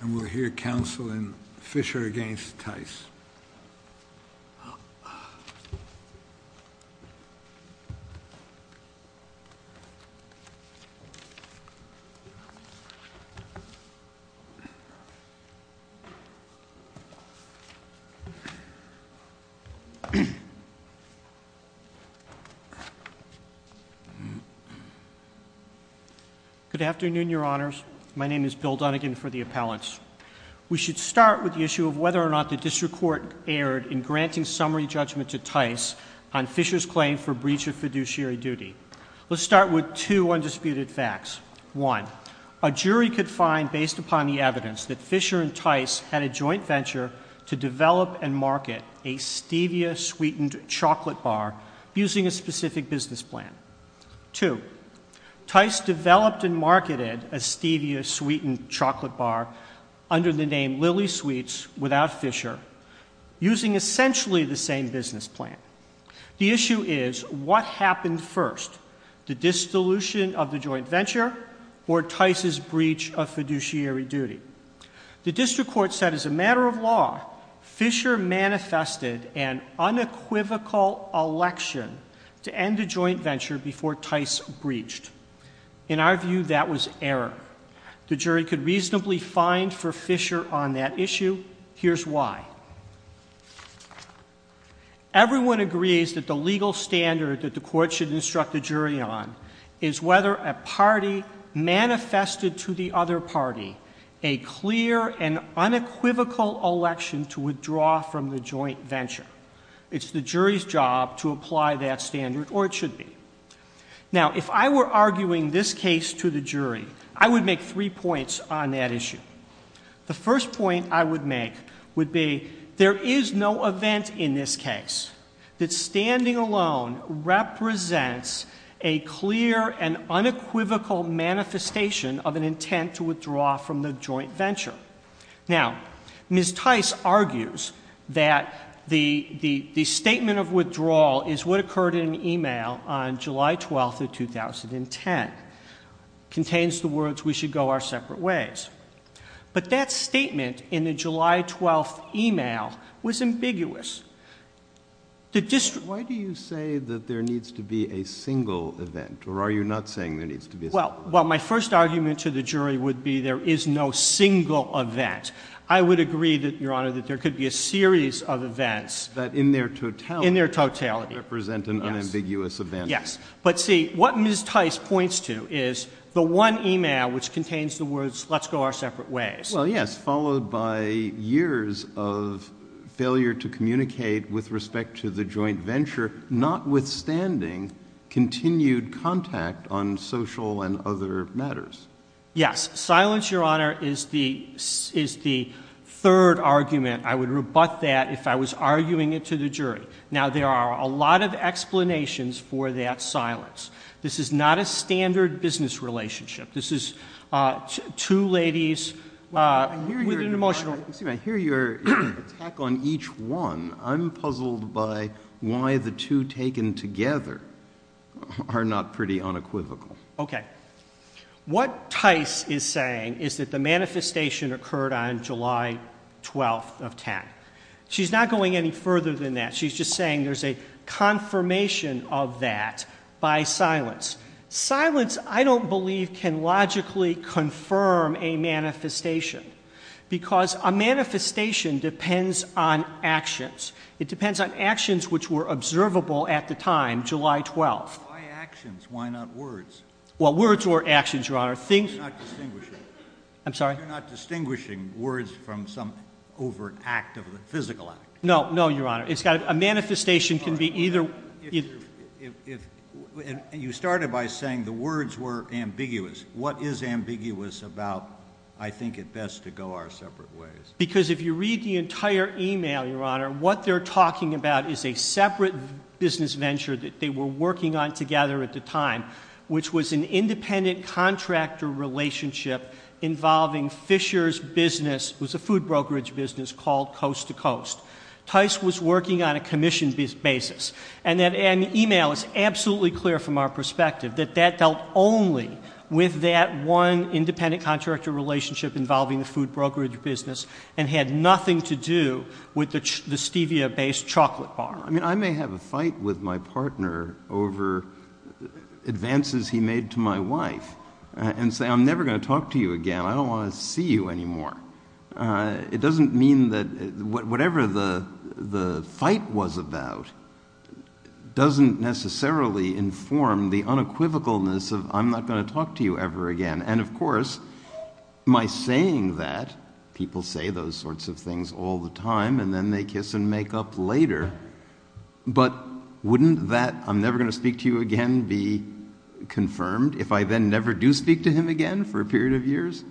And we'll hear counsel in Fisher v. Tice. Good afternoon, your honors. My name is Bill Dunigan for the appellants. We should start with the issue of whether or not the district court erred in granting summary judgment to Tice on Fisher's claim for breach of fiduciary duty. Let's start with two undisputed facts. One, a jury could find based upon the evidence that Fisher and Tice had a joint venture to develop and market a Stevia sweetened chocolate bar using a specific business plan. Two, Tice developed and marketed a Stevia sweetened chocolate bar under the name Lily Sweets without Fisher, using essentially the same business plan. The issue is, what happened first? The dissolution of the joint venture or Tice's breach of fiduciary duty? The district court said as a matter of law, Fisher manifested an unequivocal election to end the joint venture before Tice breached. In our view, that was error. The jury could reasonably find for Fisher on that issue. Here's why. Everyone agrees that the legal standard that the court should instruct the jury on is whether a party manifested to the other party a clear and unequivocal election to withdraw from the joint venture. It's the jury's job to apply that standard, or it should be. Now, if I were arguing this case to the jury, I would make three points on that issue. The first point I would make would be, there is no event in this case that standing alone represents a clear and unequivocal manifestation of an intent to withdraw from the joint venture. Now, Ms. Tice argues that the statement of withdrawal is what occurred in an email on July 12th of 2010. Contains the words, we should go our separate ways. But that statement in the July 12th email was ambiguous. The district- Why do you say that there needs to be a single event? Or are you not saying there needs to be a single event? Well, my first argument to the jury would be there is no single event. I would agree that, Your Honor, that there could be a series of events- That in their totality- In their totality- Represent an unambiguous event. Yes, but see, what Ms. Tice points to is the one email which contains the words, let's go our separate ways. Well, yes, followed by years of failure to communicate with respect to the joint venture, notwithstanding continued contact on social and other matters. Yes, silence, Your Honor, is the third argument. I would rebut that if I was arguing it to the jury. Now, there are a lot of explanations for that silence. This is not a standard business relationship. This is two ladies with an emotional- Excuse me, I hear your attack on each one. I'm puzzled by why the two taken together are not pretty unequivocal. Okay, what Tice is saying is that the manifestation occurred on July 12th of 10. She's not going any further than that. She's just saying there's a confirmation of that by silence. Silence, I don't believe, can logically confirm a manifestation because a manifestation depends on actions. It depends on actions which were observable at the time, July 12th. Why actions? Why not words? Well, words or actions, Your Honor. You're not distinguishing words from some overt act of the physical act. No, no, Your Honor. A manifestation can be either- You started by saying the words were ambiguous. What is ambiguous about, I think, it best to go our separate ways? Because if you read the entire email, Your Honor, what they're talking about is a separate business venture that they were working on together at the time, which was an independent contractor relationship involving Fisher's business. It was a food brokerage business called Coast to Coast. Tice was working on a commission basis. And the email is absolutely clear from our perspective that that dealt only with that one independent contractor relationship involving the food brokerage business and had nothing to do with the Stevia-based chocolate bar. I mean, I may have a fight with my partner over advances he made to my wife and say, I'm never going to talk to you again. I don't want to see you anymore. It doesn't mean that whatever the fight was about doesn't necessarily inform the unequivocalness of I'm not going to talk to you ever again. And of course, my saying that, people say those sorts of things all the time, and then they kiss and make up later. But wouldn't that I'm never going to speak to you again be confirmed if I then never do speak to him again for a period of years?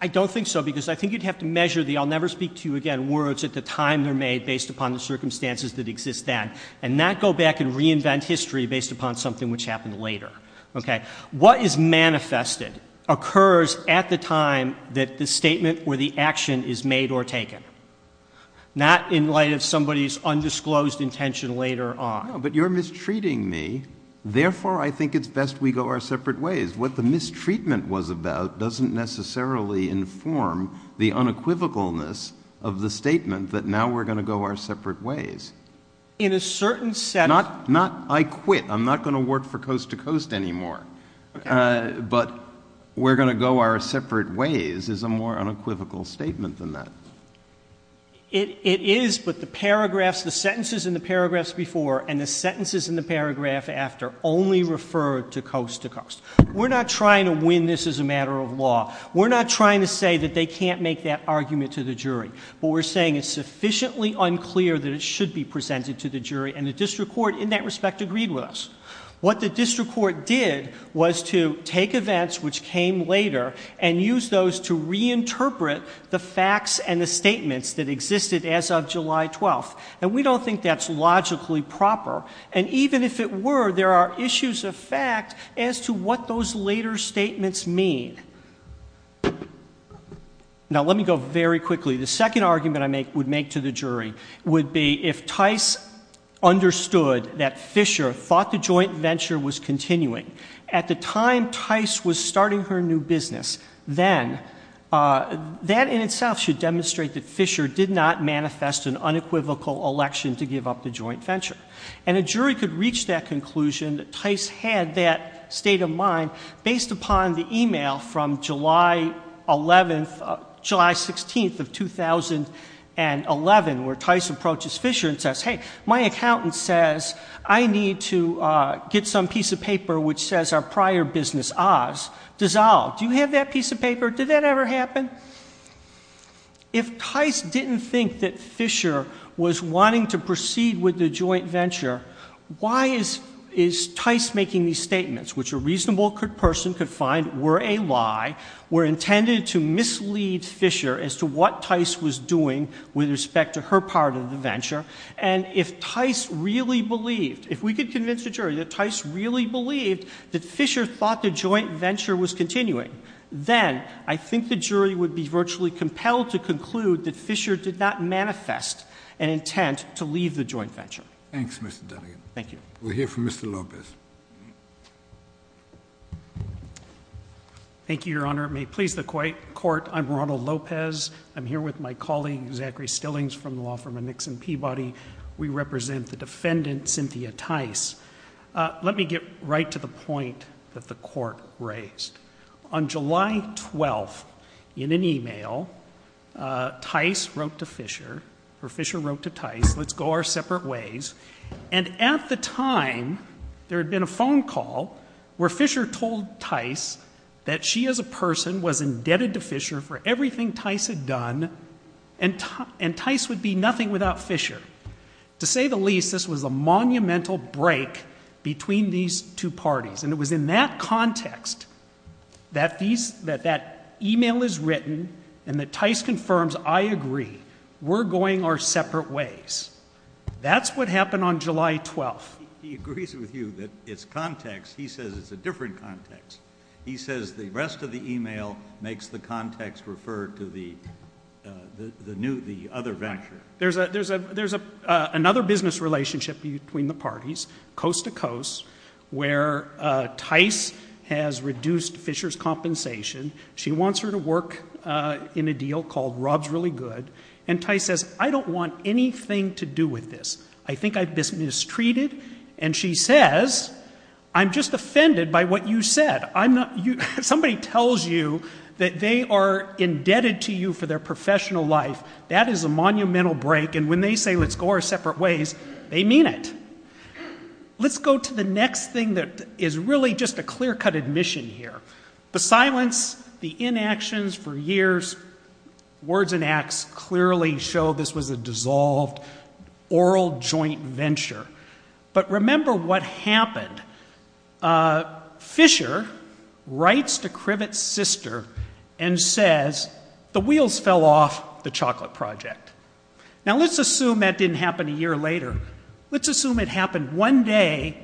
I don't think so, because I think you'd have to measure the I'll never speak to you again words at the time they're made based upon the circumstances that exist then. And not go back and reinvent history based upon something which happened later, okay? What is manifested occurs at the time that the statement or the action is made or taken, not in light of somebody's undisclosed intention later on. But you're mistreating me, therefore I think it's best we go our separate ways. What the mistreatment was about doesn't necessarily inform the unequivocalness of the statement that now we're going to go our separate ways. In a certain set- Not I quit, I'm not going to work for coast to coast anymore. But we're going to go our separate ways is a more unequivocal statement than that. It is, but the paragraphs, the sentences in the paragraphs before and the sentences in the paragraph after only refer to coast to coast. We're not trying to win this as a matter of law. We're not trying to say that they can't make that argument to the jury. But we're saying it's sufficiently unclear that it should be presented to the jury and the district court in that respect agreed with us. What the district court did was to take events which came later and use those to reinterpret the facts and the statements that existed as of July 12th. And we don't think that's logically proper. And even if it were, there are issues of fact as to what those later statements mean. Now let me go very quickly. The second argument I would make to the jury would be if Tice understood that Fisher thought the joint venture was continuing. At the time Tice was starting her new business, then that in itself should And a jury could reach that conclusion that Tice had that state of mind based upon the email from July 11th, July 16th of 2011, where Tice approaches Fisher and says, hey, my accountant says I need to get some piece of paper which says our prior business, Oz, dissolved. Do you have that piece of paper? Did that ever happen? And if Tice didn't think that Fisher was wanting to proceed with the joint venture, why is Tice making these statements, which a reasonable person could find were a lie, were intended to mislead Fisher as to what Tice was doing with respect to her part of the venture. And if Tice really believed, if we could convince the jury that Tice really believed that Fisher thought the joint venture was continuing. Then, I think the jury would be virtually compelled to conclude that Fisher did not manifest an intent to leave the joint venture. Thanks, Mr. Dunnegan. Thank you. We'll hear from Mr. Lopez. Thank you, your honor. May it please the court, I'm Ronald Lopez. I'm here with my colleague, Zachary Stillings from the law firm of Nixon Peabody. We represent the defendant, Cynthia Tice. Let me get right to the point that the court raised. On July 12th, in an email, Tice wrote to Fisher, or Fisher wrote to Tice, let's go our separate ways. And at the time, there had been a phone call where Fisher told Tice that she as a person was indebted to Fisher for everything Tice had done, and Tice would be nothing without Fisher. To say the least, this was a monumental break between these two parties. And it was in that context that that email is written and that Tice confirms, I agree, we're going our separate ways. That's what happened on July 12th. He agrees with you that it's context. He says it's a different context. He says the rest of the email makes the context refer to the other venture. There's another business relationship between the parties, coast to coast, where Tice has reduced Fisher's compensation. She wants her to work in a deal called Rob's Really Good. And Tice says, I don't want anything to do with this. I think I've been mistreated. And she says, I'm just offended by what you said. Somebody tells you that they are indebted to you for their professional life. That is a monumental break. And when they say, let's go our separate ways, they mean it. Let's go to the next thing that is really just a clear-cut admission here. The silence, the inactions for years, words and acts clearly show this was a dissolved, oral joint venture. But remember what happened. Fisher writes to Krivett's sister and says, the wheels fell off the chocolate project. Now let's assume that didn't happen a year later. Let's assume it happened one day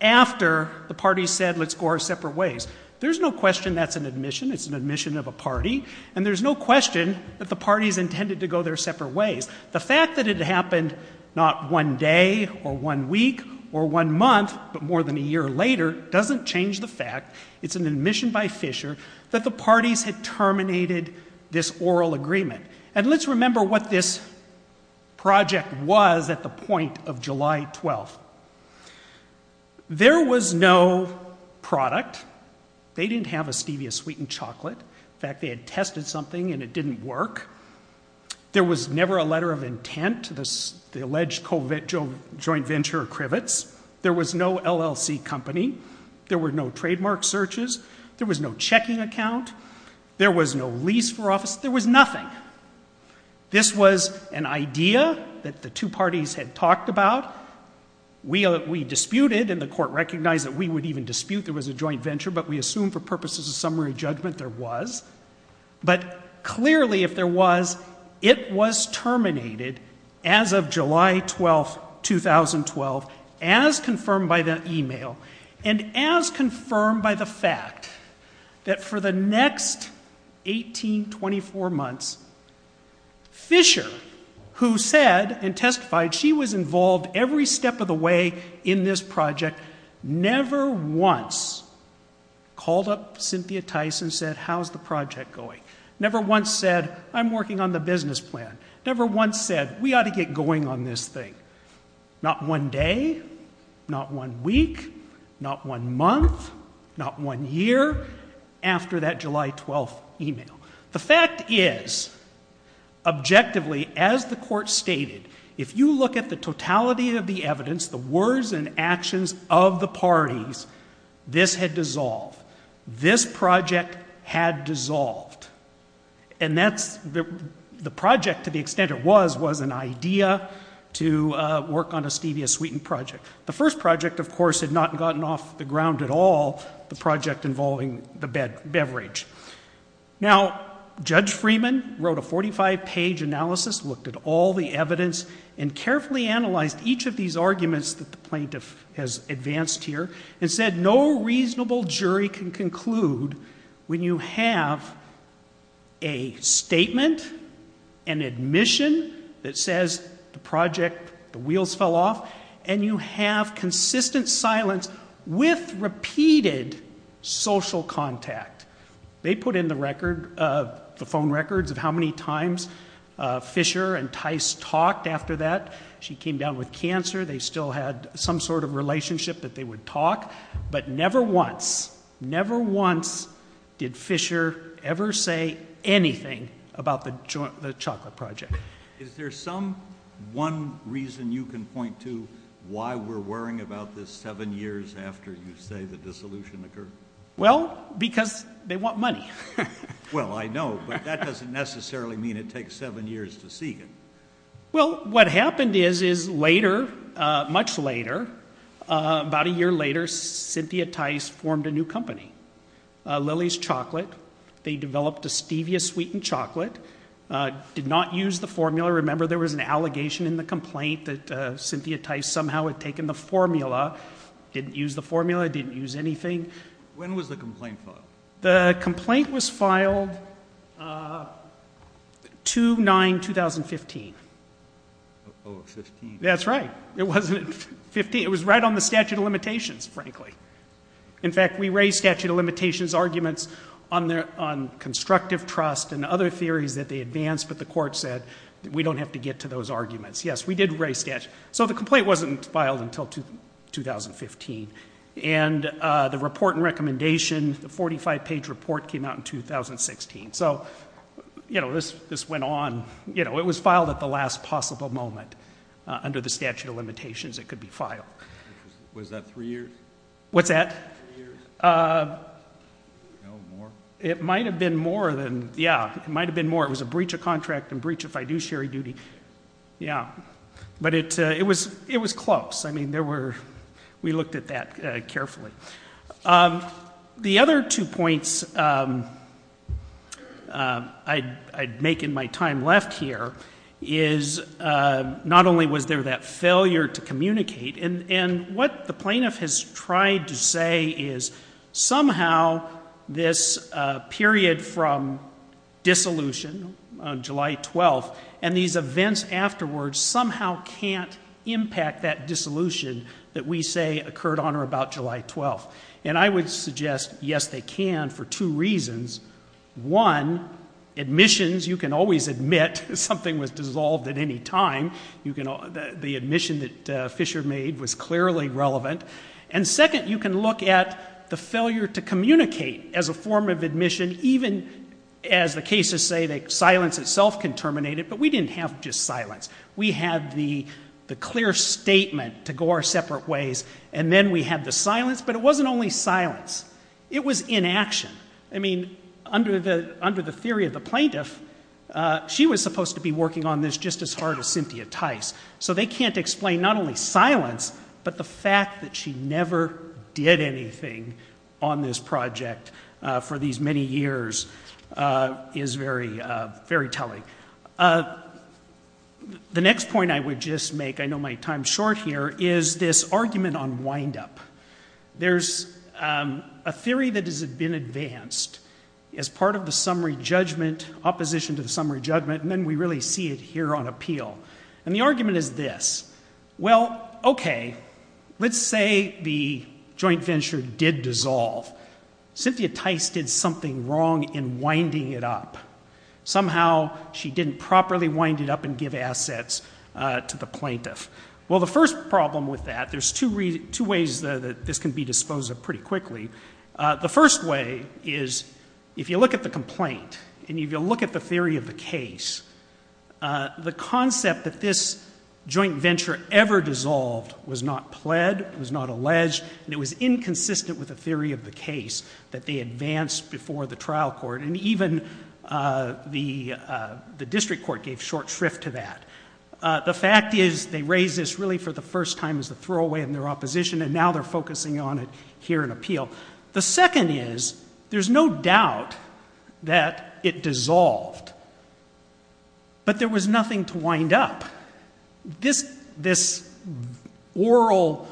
after the party said, let's go our separate ways. There's no question that's an admission. It's an admission of a party. And there's no question that the party's intended to go their separate ways. The fact that it happened not one day, or one week, or one month, but more than a year later, doesn't change the fact it's an admission by Fisher that the parties had terminated this oral agreement. And let's remember what this project was at the point of July 12th. There was no product. They didn't have a Stevia sweetened chocolate. In fact, they had tested something and it didn't work. There was never a letter of intent to the alleged joint venture of Krivett's. There was no LLC company. There were no trademark searches. There was no checking account. There was no lease for office. There was nothing. This was an idea that the two parties had talked about. We disputed and the court recognized that we would even dispute there was a joint venture, but we assumed for purposes of summary judgment there was. But clearly if there was, it was terminated as of July 12th, 2012, as confirmed by the email, and as confirmed by the fact that for the next 18, 24 months, Fisher, who said and testified she was involved every step of the way in this project, never once called up Cynthia Tyson and said, how's the project going? Never once said, I'm working on the business plan. Never once said, we ought to get going on this thing. Not one day, not one week, not one month, not one year after that July 12th email. The fact is, objectively, as the court stated, if you look at the totality of the evidence, the words and actions of the parties, this had dissolved. This project had dissolved. And the project, to the extent it was, was an idea to work on a Stevia sweetened project. The first project, of course, had not gotten off the ground at all, the project involving the beverage. Now, Judge Freeman wrote a 45-page analysis, looked at all the evidence, and carefully analyzed each of these arguments that the plaintiff has advanced here, and said no reasonable jury can conclude when you have a statement, an admission that says the project, the wheels fell off, and you have consistent silence with repeated social contact. They put in the record, the phone records of how many times Fisher and Tice talked after that. She came down with cancer. They still had some sort of relationship that they would talk, but never once, never once did Fisher ever say anything about the chocolate project. Is there some one reason you can point to why we're worrying about this seven years after you say the dissolution occurred? Well, because they want money. Well, I know, but that doesn't necessarily mean it takes seven years to seek it. Well, what happened is, is later, much later, about a year later, Cynthia Tice formed a new company, Lily's Chocolate. They developed a stevia sweetened chocolate, did not use the formula. Remember, there was an allegation in the complaint that Cynthia Tice somehow had taken the formula, didn't use the formula, didn't use anything. When was the complaint filed? The complaint was filed 2-9-2015. Oh, 15. That's right. It wasn't 15. It was right on the statute of limitations, frankly. In fact, we raised statute of limitations arguments on constructive trust and other theories that they advanced, but the court said that we don't have to get to those arguments. Yes, we did raise statute. So the complaint wasn't filed until 2015. And the report and recommendation, the 45 page report came out in 2016. So this went on, it was filed at the last possible moment. Under the statute of limitations, it could be filed. Was that three years? What's that? Three years? No, more? It might have been more than, yeah, it might have been more. It was a breach of contract and breach of fiduciary duty. Yeah, but it was close. I mean, we looked at that carefully. The other two points I'd make in my time left here is, not only was there that failure to communicate, and what the plaintiff has tried to say is somehow this period from dissolution on July 12th and these events afterwards somehow can't impact that dissolution that we say occurred on or about July 12th. And I would suggest, yes, they can for two reasons. One, admissions, you can always admit something was dissolved at any time. The admission that Fisher made was clearly relevant. And second, you can look at the failure to communicate as a form of admission, even as the cases say that silence itself can terminate it. But we didn't have just silence. We had the clear statement to go our separate ways, and then we had the silence, but it wasn't only silence, it was inaction. I mean, under the theory of the plaintiff, she was supposed to be working on this just as hard as Cynthia Tice. So they can't explain not only silence, but the fact that she never did anything on this project for these many years is very telling. The next point I would just make, I know my time's short here, is this argument on wind up. There's a theory that has been advanced as part of the summary judgment, opposition to the summary judgment, and then we really see it here on appeal. And the argument is this. Well, okay, let's say the joint venture did dissolve. Cynthia Tice did something wrong in winding it up. Somehow, she didn't properly wind it up and give assets to the plaintiff. Well, the first problem with that, there's two ways that this can be disposed of pretty quickly. The first way is, if you look at the complaint, and if you look at the theory of the case, the concept that this joint venture ever dissolved was not pled, was not alleged, and it was inconsistent with the theory of the case that they advanced before the trial court, and even the district court gave short shrift to that. The fact is, they raised this really for the first time as a throwaway in their opposition, and now they're focusing on it here in appeal. The second is, there's no doubt that it dissolved, but there was nothing to wind up. This oral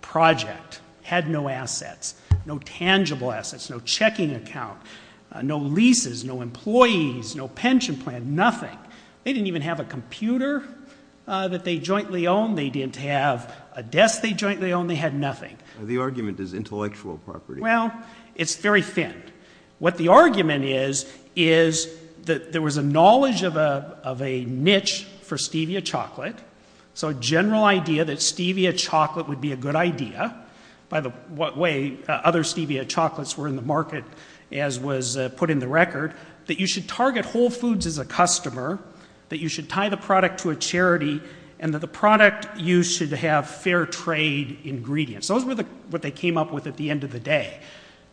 project had no assets, no tangible assets, no checking account, no leases, no employees, no pension plan, nothing. They didn't even have a computer that they jointly owned. They didn't have a desk they jointly owned. They had nothing. The argument is intellectual property. Well, it's very thin. What the argument is, is that there was a knowledge of a niche for Stevia chocolate. So a general idea that Stevia chocolate would be a good idea. By the way, other Stevia chocolates were in the market, as was put in the record, that you should target Whole Foods as a customer, that you should tie the product to a charity, and that the product you should have fair trade ingredients. Those were what they came up with at the end of the day.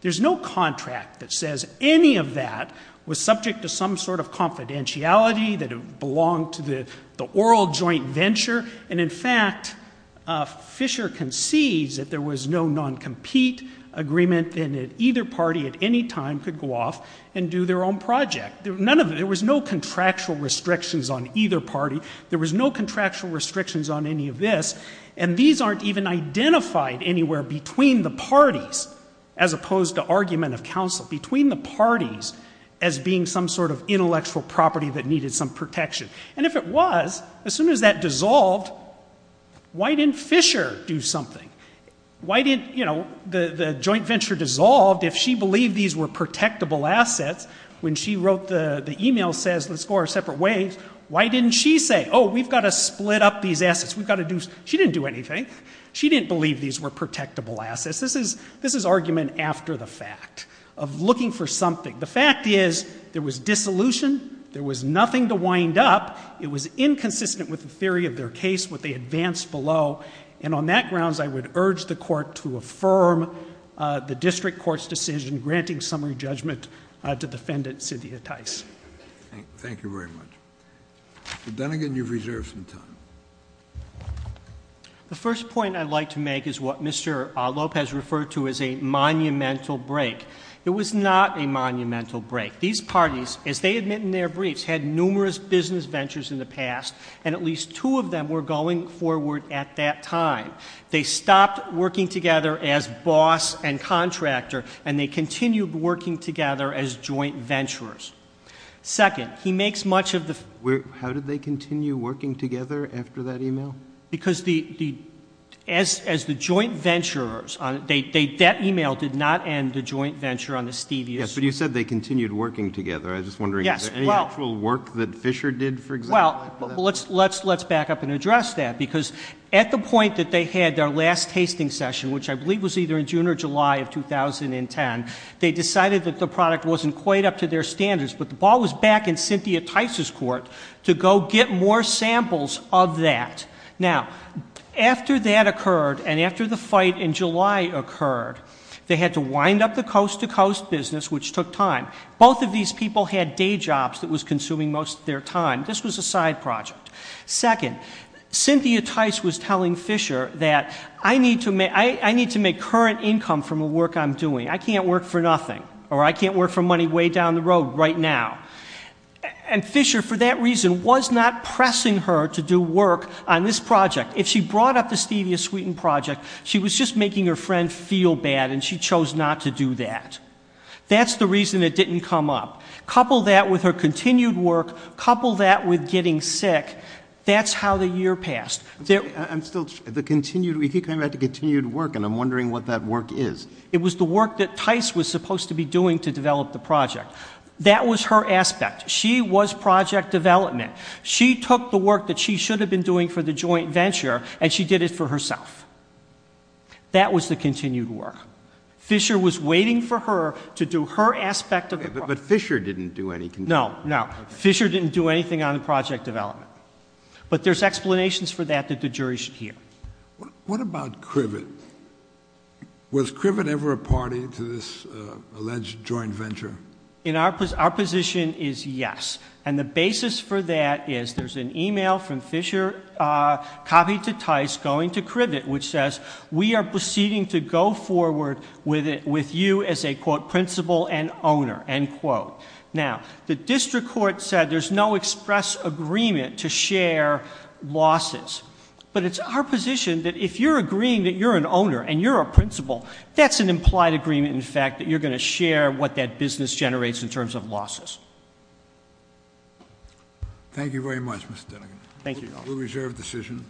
There's no contract that says any of that was subject to some sort of confidentiality, that it belonged to the oral joint venture. And in fact, Fisher concedes that there was no non-compete agreement, and that either party at any time could go off and do their own project. There was no contractual restrictions on either party. There was no contractual restrictions on any of this. And these aren't even identified anywhere between the parties, as opposed to argument of counsel, between the parties as being some sort of intellectual property that needed some protection. And if it was, as soon as that dissolved, why didn't Fisher do something? Why didn't the joint venture dissolve if she believed these were protectable assets? When she wrote the email says, let's go our separate ways, why didn't she say, we've gotta split up these assets, we've gotta do, she didn't do anything. She didn't believe these were protectable assets. This is argument after the fact, of looking for something. The fact is, there was dissolution, there was nothing to wind up. It was inconsistent with the theory of their case, what they advanced below. And on that grounds, I would urge the court to affirm the district court's decision, granting summary judgment to defendant, Cynthia Tice. Thank you very much. Mr. Dunnigan, you've reserved some time. The first point I'd like to make is what Mr. Lopez referred to as a monumental break. It was not a monumental break. These parties, as they admit in their briefs, had numerous business ventures in the past, and at least two of them were going forward at that time. They stopped working together as boss and contractor, and they continued working together as joint venturers. Second, he makes much of the- Because as the joint venturers, that email did not end the joint venture on the Stevias. Yes, but you said they continued working together. I was just wondering, is there any actual work that Fisher did, for example? Well, let's back up and address that, because at the point that they had their last tasting session, which I believe was either in June or July of 2010, they decided that the product wasn't quite up to their standards. But the ball was back in Cynthia Tice's court to go get more samples of that. Now, after that occurred, and after the fight in July occurred, they had to wind up the coast to coast business, which took time. Both of these people had day jobs that was consuming most of their time. This was a side project. Second, Cynthia Tice was telling Fisher that I need to make current income from the work I'm doing. I can't work for nothing, or I can't work for money way down the road right now. And Fisher, for that reason, was not pressing her to do work on this project. If she brought up the Stevia Sweeten project, she was just making her friend feel bad, and she chose not to do that. That's the reason it didn't come up. Couple that with her continued work, couple that with getting sick, that's how the year passed. I'm still, the continued, we keep coming back to continued work, and I'm wondering what that work is. It was the work that Tice was supposed to be doing to develop the project. That was her aspect. She was project development. She took the work that she should have been doing for the joint venture, and she did it for herself. That was the continued work. Fisher was waiting for her to do her aspect of the- But Fisher didn't do any- No, no. Fisher didn't do anything on the project development. But there's explanations for that that the jury should hear. What about Criven? Was Criven ever a party to this alleged joint venture? In our position is yes. And the basis for that is there's an email from Fisher copied to Tice going to Criven, which says we are proceeding to go forward with you as a quote principal and owner, end quote. Now, the district court said there's no express agreement to share losses. But it's our position that if you're agreeing that you're an owner and you're a principal, that's an implied agreement in fact that you're going to share what that business generates in terms of losses. Thank you very much, Mr. Dennegan. Thank you. We reserve decision.